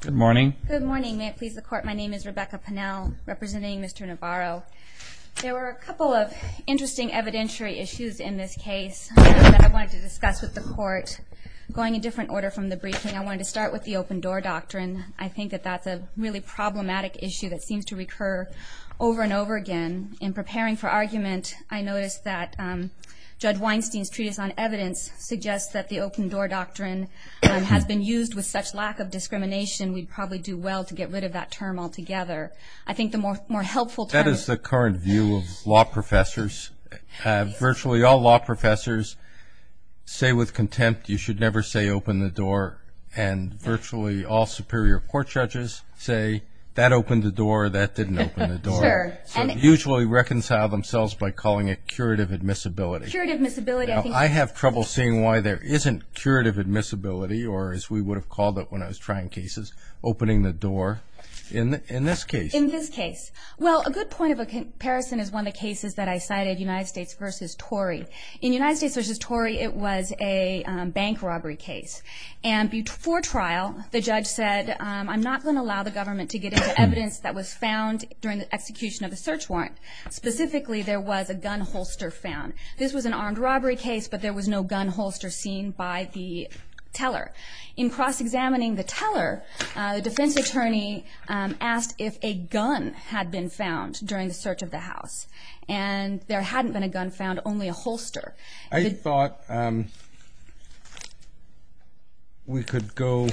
Good morning. Good morning. May it please the court, my name is Rebecca Pennell representing Mr. Navarro. There were a couple of interesting evidentiary issues in this case that I wanted to discuss with the court. Going in different order from the briefing, I wanted to start with the open door doctrine. I think that that's a really problematic issue that seems to recur over and over again. In preparing for argument, I noticed that Judge Weinstein's treatise on evidence suggests that the open door doctrine has been used with such lack of discrimination, we'd probably do well to get rid of that term altogether. I think the more helpful term... That is the current view of law professors. Virtually all law professors say with contempt, you should never say open the door, and virtually all superior court judges say, that opened the door, that didn't open the door. Sure. Usually reconcile themselves by calling it curative admissibility. Curative admissibility, I think... I have trouble seeing why there isn't curative admissibility, or as we would have called it when I was trying cases, opening the door in this case. In this case. Well, a good point of comparison is one of the cases that I cited, United States v. Torrey. In United States v. Torrey, it was a bank robbery case. And for trial, the judge said, I'm not going to allow the government to get into evidence that was found during the execution of the search warrant. Specifically, there was a gun holster found. This was an armed robbery case, but there was no gun holster seen by the teller. In cross-examining the teller, the defense attorney asked if a gun had been found during the search of the house. And there hadn't been a gun found, only a holster. I thought we could go...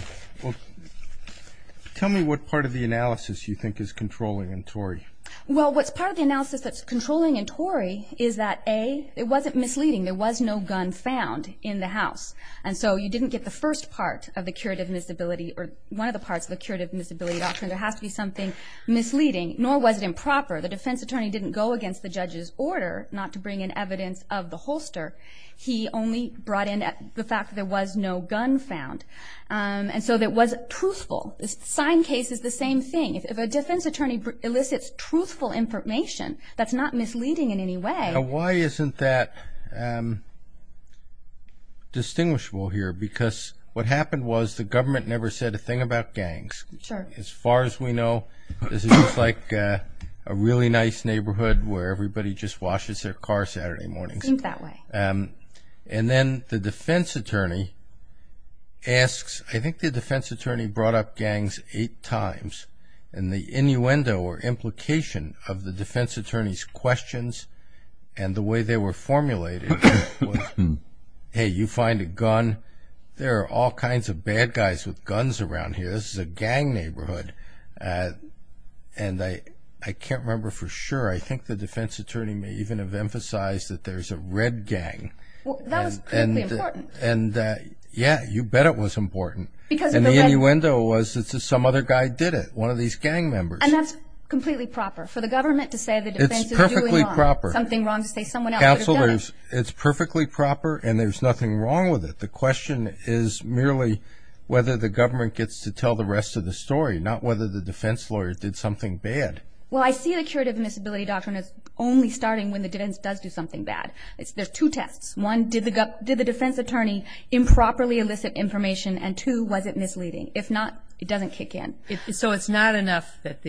Tell me what part of the analysis you think is controlling in Torrey. Well, what's part of the analysis that's controlling in Torrey is that, A, it wasn't misleading. There was no gun found in the house. And so you didn't get the first part of the curative admissibility or one of the parts of the curative admissibility doctrine. There has to be something misleading, nor was it improper. The defense attorney didn't go against the judge's order not to bring in evidence of the holster. He only brought in the fact that there was no gun found. And so it wasn't truthful. The sign case is the same thing. If a defense attorney elicits truthful information, that's not misleading in any way. Now, why isn't that distinguishable here? Because what happened was the government never said a thing about gangs. Sure. As far as we know, this is just like a really nice neighborhood where everybody just washes their car Saturday mornings. Seems that way. And then the defense attorney asks... I think the defense attorney brought up gangs eight times. And the innuendo or implication of the defense attorney's questions and the way they were formulated was, Hey, you find a gun? There are all kinds of bad guys with guns around here. This is a gang neighborhood. And I can't remember for sure. I think the defense attorney may even have emphasized that there's a red gang. That was critically important. And, yeah, you bet it was important. And the innuendo was that some other guy did it, one of these gang members. And that's completely proper for the government to say the defense is doing wrong. It's perfectly proper. Something wrong to say someone else would have done it. Counselors, it's perfectly proper and there's nothing wrong with it. The question is merely whether the government gets to tell the rest of the story, not whether the defense lawyer did something bad. Well, I see the curative admissibility doctrine as only starting when the defense does do something bad. There's two tests. One, did the defense attorney improperly elicit information? And, two, was it misleading? If not, it doesn't kick in. So it's not enough that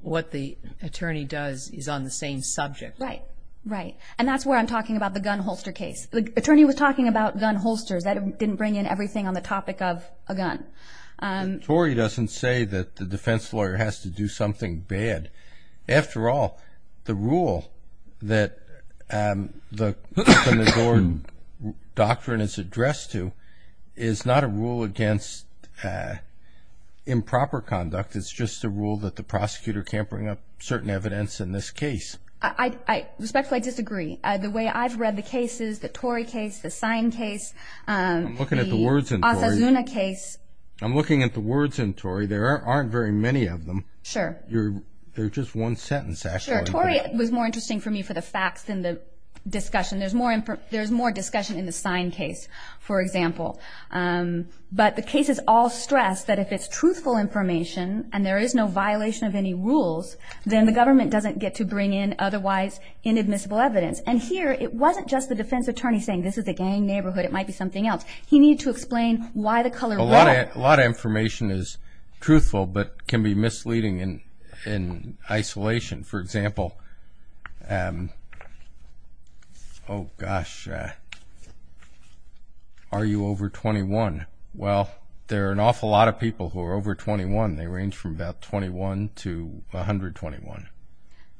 what the attorney does is on the same subject. Right, right. And that's where I'm talking about the gun holster case. The attorney was talking about gun holsters. That didn't bring in everything on the topic of a gun. The tory doesn't say that the defense lawyer has to do something bad. After all, the rule that the custom adored doctrine is addressed to is not a rule against improper conduct. It's just a rule that the prosecutor can't bring up certain evidence in this case. Respectfully, I disagree. The way I've read the cases, the tory case, the sign case, the Osasuna case. I'm looking at the words in tory. I'm looking at the words in tory. There aren't very many of them. Sure. They're just one sentence, actually. Sure. Tory was more interesting for me for the facts than the discussion. There's more discussion in the sign case, for example. But the cases all stress that if it's truthful information and there is no violation of any rules, then the government doesn't get to bring in otherwise inadmissible evidence. And here, it wasn't just the defense attorney saying, this is a gang neighborhood, it might be something else. He needed to explain why the color was. A lot of information is truthful but can be misleading in isolation. For example, oh, gosh, are you over 21? Well, there are an awful lot of people who are over 21. They range from about 21 to 121.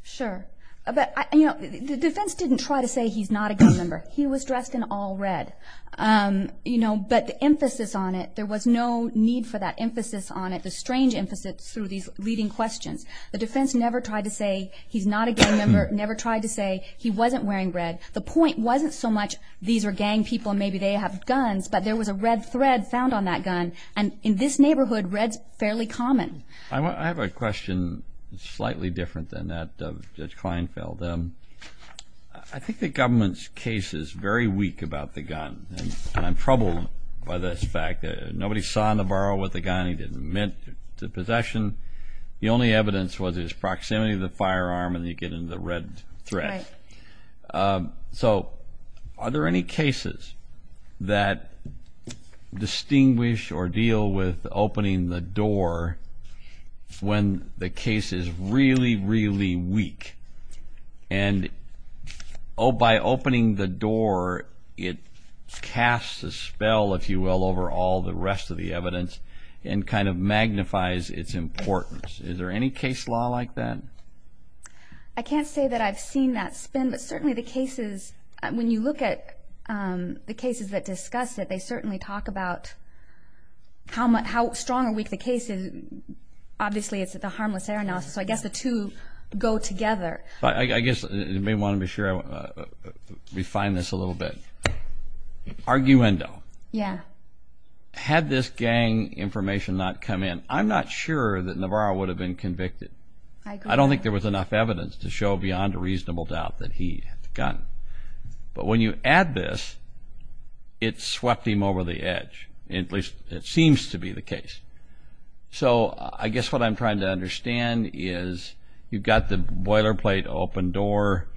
Sure. The defense didn't try to say he's not a gang member. He was dressed in all red. But the emphasis on it, there was no need for that emphasis on it, the strange emphasis through these leading questions. The defense never tried to say he's not a gang member, never tried to say he wasn't wearing red. The point wasn't so much these are gang people and maybe they have guns, but there was a red thread found on that gun. And in this neighborhood, red's fairly common. I have a question slightly different than that of Judge Kleinfeld. I think the government's case is very weak about the gun, and I'm troubled by this fact. Nobody saw Navarro with a gun. He didn't admit to possession. The only evidence was his proximity to the firearm and he'd get into the red thread. Right. So are there any cases that distinguish or deal with opening the door when the case is really, really weak? And by opening the door, it casts a spell, if you will, over all the rest of the evidence and kind of magnifies its importance. Is there any case law like that? I can't say that I've seen that spin, but certainly the cases, when you look at the cases that discuss it, they certainly talk about how strong or weak the case is. Obviously, it's the harmless air analysis. So I guess the two go together. I guess you may want to be sure I refine this a little bit. Arguendo. Yeah. Had this gang information not come in, I'm not sure that Navarro would have been convicted. I agree. It looked like there was enough evidence to show beyond a reasonable doubt that he had the gun. But when you add this, it swept him over the edge, at least it seems to be the case. So I guess what I'm trying to understand is you've got the boilerplate open door,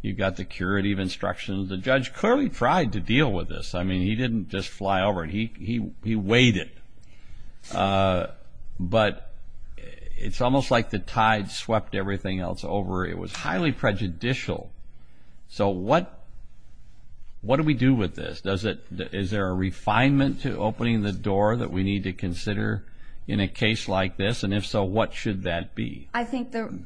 you've got the curative instructions. The judge clearly tried to deal with this. I mean, he didn't just fly over it. He waited. But it's almost like the tide swept everything else over. It was highly prejudicial. So what do we do with this? Is there a refinement to opening the door that we need to consider in a case like this? And if so, what should that be? I think the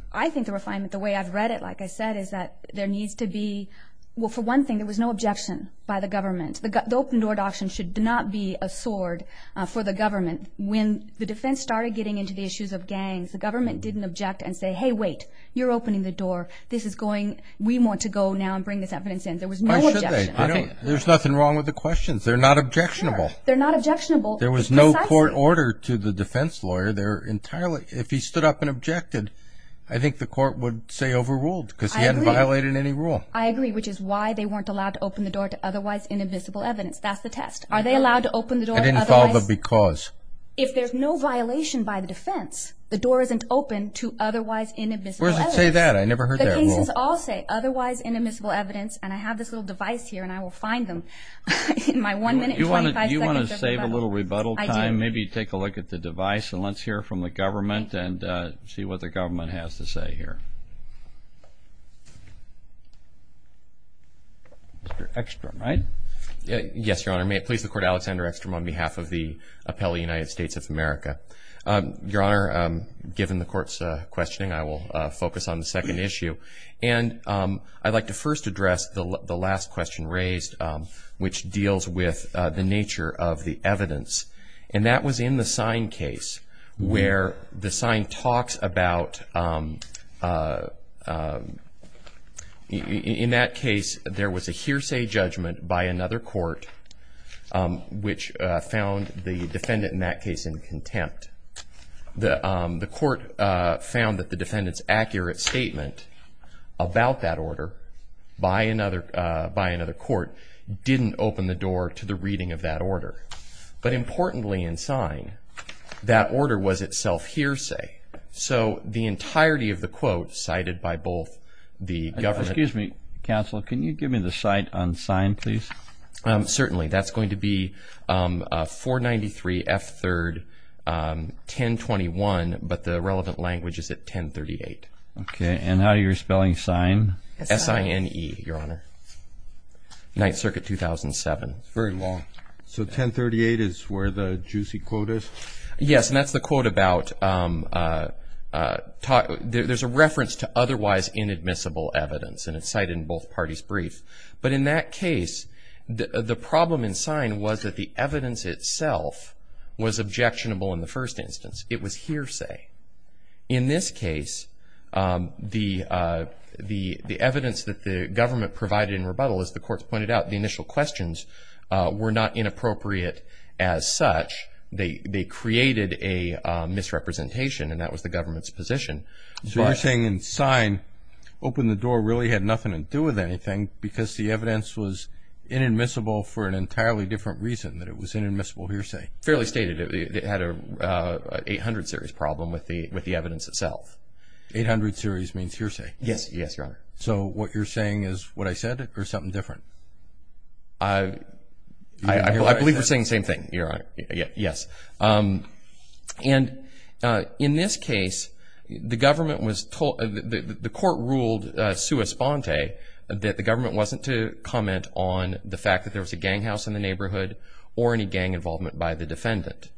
refinement, the way I've read it, like I said, is that there needs to be, well, for one thing, there was no objection by the government. The open door adoption should not be a sword for the government. When the defense started getting into the issues of gangs, the government didn't object and say, hey, wait, you're opening the door. We want to go now and bring this evidence in. There was no objection. Why should they? There's nothing wrong with the questions. They're not objectionable. They're not objectionable. There was no court order to the defense lawyer. If he stood up and objected, I think the court would say overruled because he hadn't violated any rule. I agree, which is why they weren't allowed to open the door to otherwise inadmissible evidence. That's the test. Are they allowed to open the door to otherwise? I didn't follow the because. If there's no violation by the defense, the door isn't open to otherwise inadmissible evidence. Where does it say that? I never heard that rule. The cases all say otherwise inadmissible evidence, and I have this little device here, and I will find them in my one minute, 25 seconds of rebuttal. Do you want to save a little rebuttal time? I do. Maybe take a look at the device, and let's hear from the government and see what the government has to say here. Mr. Ekstrom, right? Yes, Your Honor. May it please the Court, Alexander Ekstrom on behalf of the Appellee United States of America. Your Honor, given the Court's questioning, I will focus on the second issue. And I'd like to first address the last question raised, which deals with the nature of the evidence. And that was in the sign case, where the sign talks about, in that case, there was a hearsay judgment by another court, which found the defendant in that case in contempt. The court found that the defendant's accurate statement about that order by another court didn't open the door to the reading of that order. But importantly, in sign, that order was itself hearsay. So the entirety of the quote cited by both the government... Excuse me, counsel. Can you give me the cite on sign, please? Certainly. That's going to be 493 F. 3rd, 1021, but the relevant language is at 1038. Okay. And how do you spell sign? S-I-N-E, Your Honor. Ninth Circuit, 2007. Very long. So 1038 is where the juicy quote is? Yes, and that's the quote about... There's a reference to otherwise inadmissible evidence, and it's cited in both parties' briefs. But in that case, the problem in sign was that the evidence itself was objectionable in the first instance. It was hearsay. In this case, the evidence that the government provided in rebuttal, as the courts pointed out, the initial questions were not inappropriate as such. They created a misrepresentation, and that was the government's position. So you're saying in sign, open the door really had nothing to do with anything because the evidence was inadmissible for an entirely different reason than it was inadmissible hearsay? Fairly stated. It had an 800 series problem with the evidence itself. Eight hundred series means hearsay? Yes, Your Honor. So what you're saying is what I said or something different? I believe we're saying the same thing, Your Honor. Yes. And in this case, the government was told, the court ruled sui sponte, that the government wasn't to comment on the fact that there was a gang house in the neighborhood or any gang involvement by the defendant.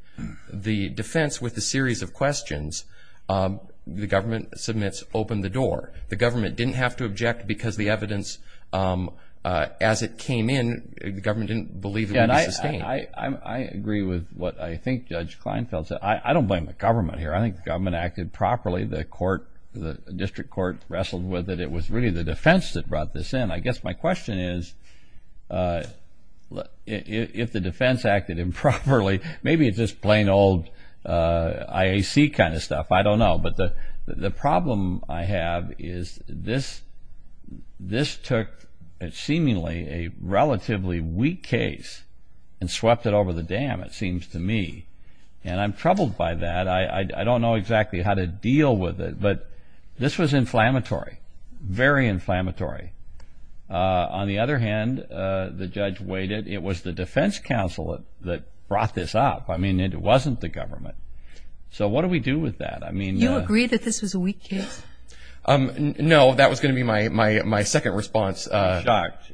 The defense, with a series of questions, the government submits open the door. The government didn't have to object because the evidence, as it came in, the government didn't believe it would be sustained. I agree with what I think Judge Kleinfeld said. I don't blame the government here. I think the government acted properly. The district court wrestled with it. It was really the defense that brought this in. I guess my question is, if the defense acted improperly, maybe it's just plain old IAC kind of stuff. I don't know. But the problem I have is this took seemingly a relatively weak case and swept it over the dam, it seems to me. And I'm troubled by that. I don't know exactly how to deal with it. But this was inflammatory, very inflammatory. On the other hand, the judge waited. It was the defense counsel that brought this up. I mean, it wasn't the government. So what do we do with that? You agree that this was a weak case? No, that was going to be my second response. Shocked.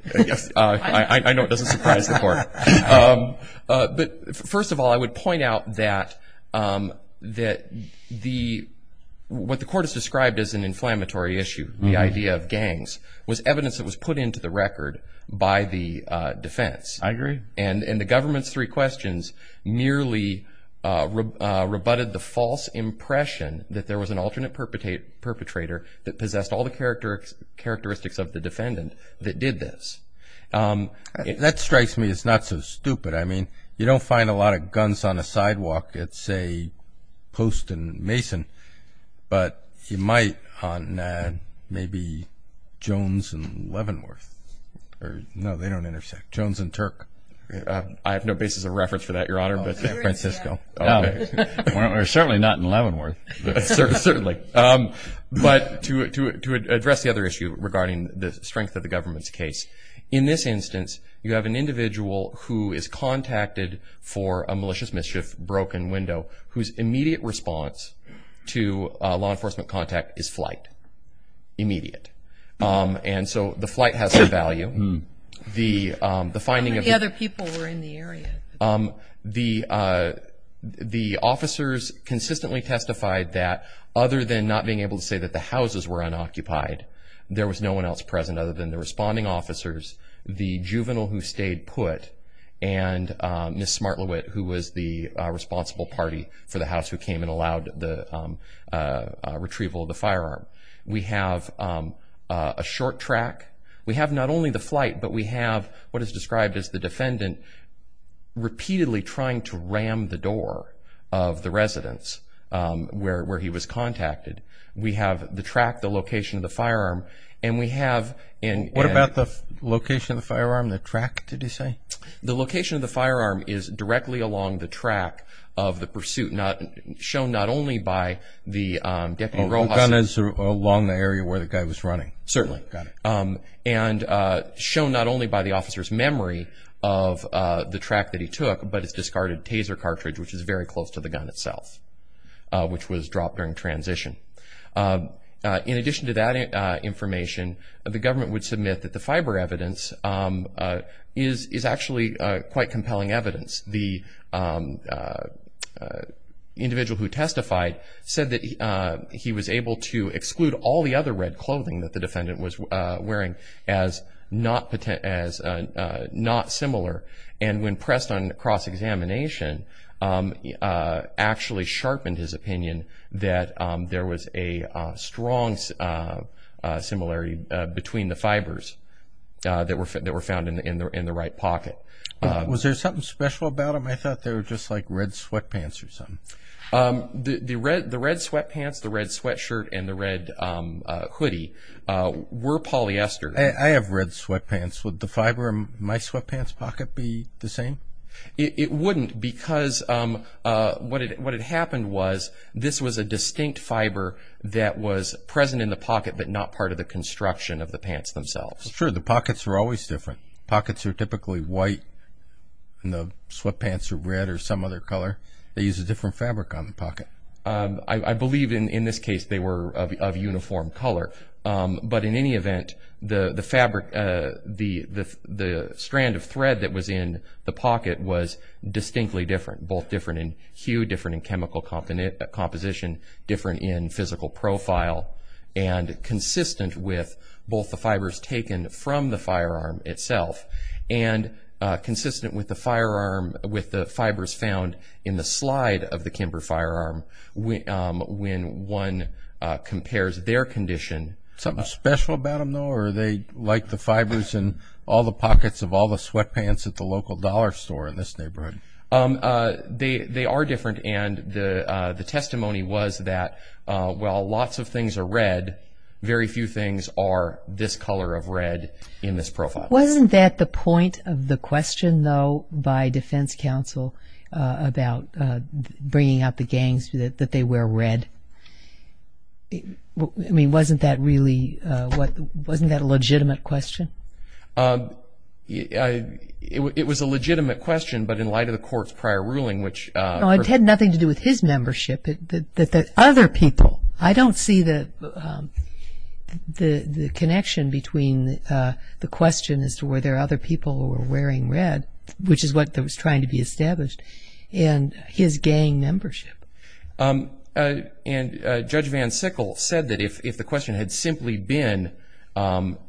I know it doesn't surprise the court. But first of all, I would point out that what the court has described as an inflammatory issue, the idea of gangs, was evidence that was put into the record by the defense. I agree. And the government's three questions merely rebutted the false impression that there was an alternate perpetrator that possessed all the characteristics of the defendant that did this. That strikes me as not so stupid. I mean, you don't find a lot of guns on a sidewalk at, say, Post and Mason, but you might on maybe Jones and Leavenworth. No, they don't intersect. Jones and Turk. I have no basis of reference for that, Your Honor. Francisco. We're certainly not in Leavenworth. Certainly. But to address the other issue regarding the strength of the government's case, in this instance you have an individual who is contacted for a malicious mischief broken window whose immediate response to law enforcement contact is flight. Immediate. And so the flight has some value. How many other people were in the area? The officers consistently testified that, other than not being able to say that the houses were unoccupied, there was no one else present other than the responding officers, the juvenile who stayed put, and Ms. Smart-Lewitt, who was the responsible party for the house who came and allowed the retrieval of the firearm. We have a short track. We have not only the flight, but we have what is described as the defendant repeatedly trying to ram the door of the residence where he was contacted. We have the track, the location of the firearm. What about the location of the firearm, the track, did he say? The location of the firearm is directly along the track of the pursuit, shown not only by the Deputy Rojas. The gun is along the area where the guy was running. Certainly. And shown not only by the officer's memory of the track that he took, but it's discarded taser cartridge, which is very close to the gun itself, which was dropped during transition. In addition to that information, the government would submit that the fiber evidence is actually quite compelling evidence. The individual who testified said that he was able to exclude all the other red clothing that the defendant was wearing as not similar. And when pressed on cross-examination, actually sharpened his opinion that there was a strong similarity between the fibers that were found in the right pocket. Was there something special about them? I thought they were just like red sweatpants or something. The red sweatpants, the red sweatshirt, and the red hoodie were polyester. I have red sweatpants. Would the fiber in my sweatpants pocket be the same? It wouldn't because what had happened was this was a distinct fiber that was present in the pocket but not part of the construction of the pants themselves. Sure, the pockets are always different. Pockets are typically white and the sweatpants are red or some other color. They use a different fabric on the pocket. I believe in this case they were of uniform color. But in any event, the strand of thread that was in the pocket was distinctly different, both different in hue, different in chemical composition, different in physical profile, and consistent with both the fibers taken from the firearm itself and consistent with the fibers found in the slide of the Kimber firearm when one compares their condition. Something special about them, though, or are they like the fibers in all the pockets of all the sweatpants at the local dollar store in this neighborhood? They are different, and the testimony was that while lots of things are red, very few things are this color of red in this profile. Wasn't that the point of the question, though, by defense counsel about bringing out the gangs, that they wear red? I mean, wasn't that really a legitimate question? It was a legitimate question, but in light of the court's prior ruling, which – No, it had nothing to do with his membership. Other people, I don't see the connection between the question as to whether other people were wearing red, which is what was trying to be established, and his gang membership. And Judge Van Sickle said that if the question had simply been,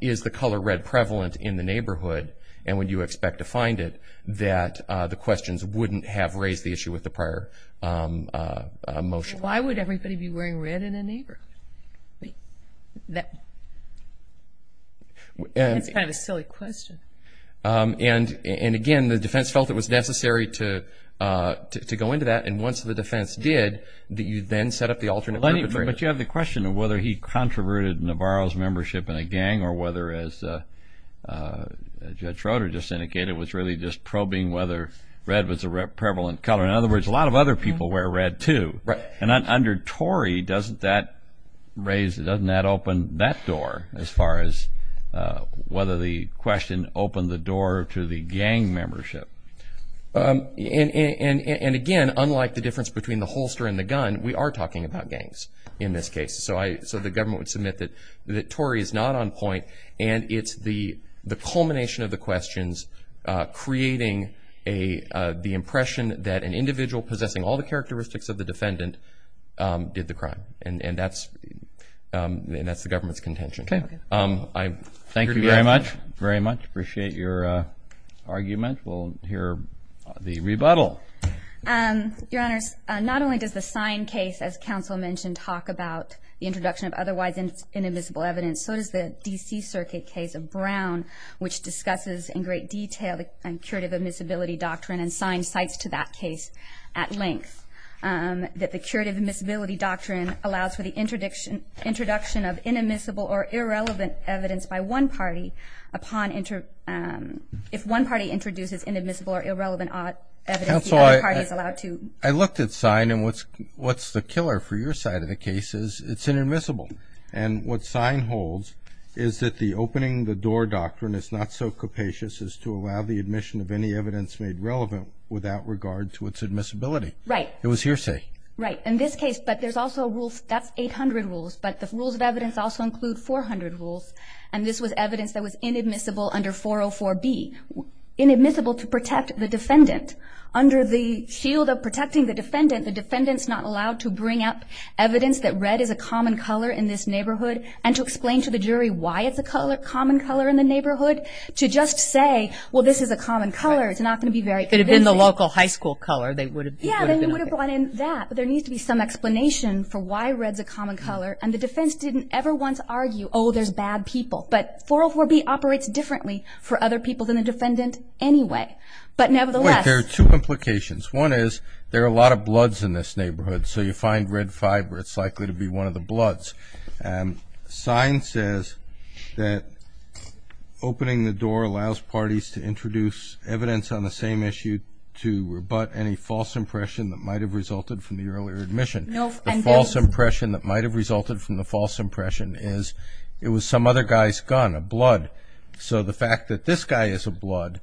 is the color red prevalent in the neighborhood and would you expect to find it, that the questions wouldn't have raised the issue with the prior motion. Why would everybody be wearing red in the neighborhood? That's kind of a silly question. And again, the defense felt it was necessary to go into that, and once the defense did, you then set up the alternate perpetrator. But you have the question of whether he controverted Navarro's membership in a gang or whether, as Judge Schroeder just indicated, it was really just probing whether red was a prevalent color. In other words, a lot of other people wear red, too. Right. And under Torrey, doesn't that raise – doesn't that open that door as far as whether the question opened the door to the gang membership? And again, unlike the difference between the holster and the gun, we are talking about gangs in this case. So the government would submit that Torrey is not on point and it's the culmination of the questions creating the impression that an individual possessing all the characteristics of the defendant did the crime. And that's the government's contention. Okay. Thank you very much. Appreciate your argument. We'll hear the rebuttal. Your Honors, not only does the sign case, as counsel mentioned, talk about the introduction of otherwise inadmissible evidence, so does the D.C. Circuit case of Brown, which discusses in great detail the curative admissibility doctrine and signs sites to that case at length, that the curative admissibility doctrine allows for the introduction of inadmissible or irrelevant evidence by one party upon – if one party introduces inadmissible or irrelevant evidence. Counsel, I looked at sign and what's the killer for your side of the case is it's inadmissible. And what sign holds is that the opening the door doctrine is not so capacious as to allow the admission of any evidence made relevant without regard to its admissibility. Right. It was hearsay. Right. In this case, but there's also rules, that's 800 rules, but the rules of evidence also include 400 rules. And this was evidence that was inadmissible under 404B, inadmissible to protect the defendant. Under the shield of protecting the defendant, the defendant's not allowed to bring up evidence that red is a common color in this neighborhood and to explain to the jury why it's a common color in the neighborhood, to just say, well, this is a common color, it's not going to be very convincing. If it had been the local high school color, they would have been okay. Yeah, they would have brought in that, but there needs to be some explanation for why red's a common color. And the defense didn't ever once argue, oh, there's bad people. But 404B operates differently for other people than the defendant anyway. But nevertheless. There are two implications. One is there are a lot of bloods in this neighborhood, so you find red fiber, it's likely to be one of the bloods. Sign says that opening the door allows parties to introduce evidence on the same issue to rebut any false impression that might have resulted from the earlier admission. The false impression that might have resulted from the false impression is it was some other guy's gun, a blood. So the fact that this guy is a blood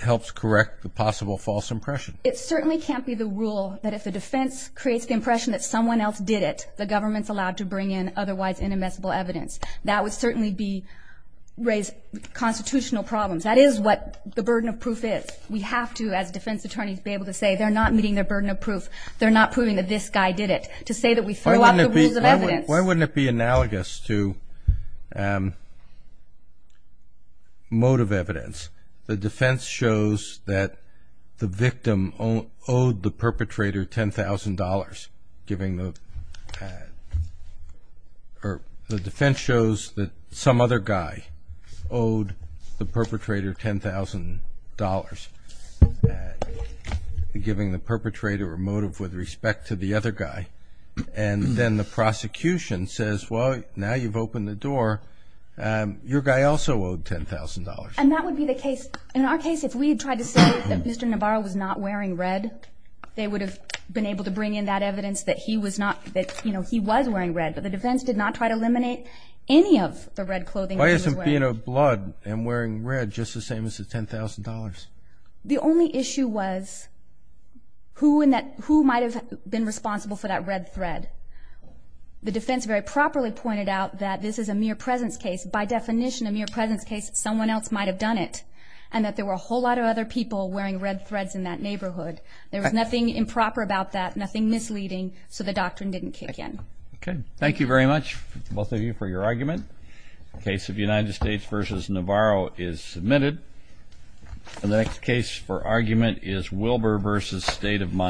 helps correct the possible false impression. It certainly can't be the rule that if the defense creates the impression that someone else did it, the government's allowed to bring in otherwise inadmissible evidence. That would certainly raise constitutional problems. That is what the burden of proof is. We have to, as defense attorneys, be able to say they're not meeting their burden of proof. They're not proving that this guy did it. To say that we throw out the rules of evidence. Why wouldn't it be analogous to motive evidence? The defense shows that the victim owed the perpetrator $10,000. The defense shows that some other guy owed the perpetrator $10,000, giving the perpetrator a motive with respect to the other guy. And then the prosecution says, well, now you've opened the door. Your guy also owed $10,000. And that would be the case. In our case, if we had tried to say that Mr. Navarro was not wearing red, they would have been able to bring in that evidence that he was wearing red. But the defense did not try to eliminate any of the red clothing. Why isn't being a blood and wearing red just the same as the $10,000? The only issue was who might have been responsible for that red thread. The defense very properly pointed out that this is a mere presence case. By definition, a mere presence case, someone else might have done it, and that there were a whole lot of other people wearing red threads in that neighborhood. There was nothing improper about that, nothing misleading, so the doctrine didn't kick in. Okay. Thank you very much, both of you, for your argument. The case of United States v. Navarro is submitted. The next case for argument is Wilbur v. State of Mind.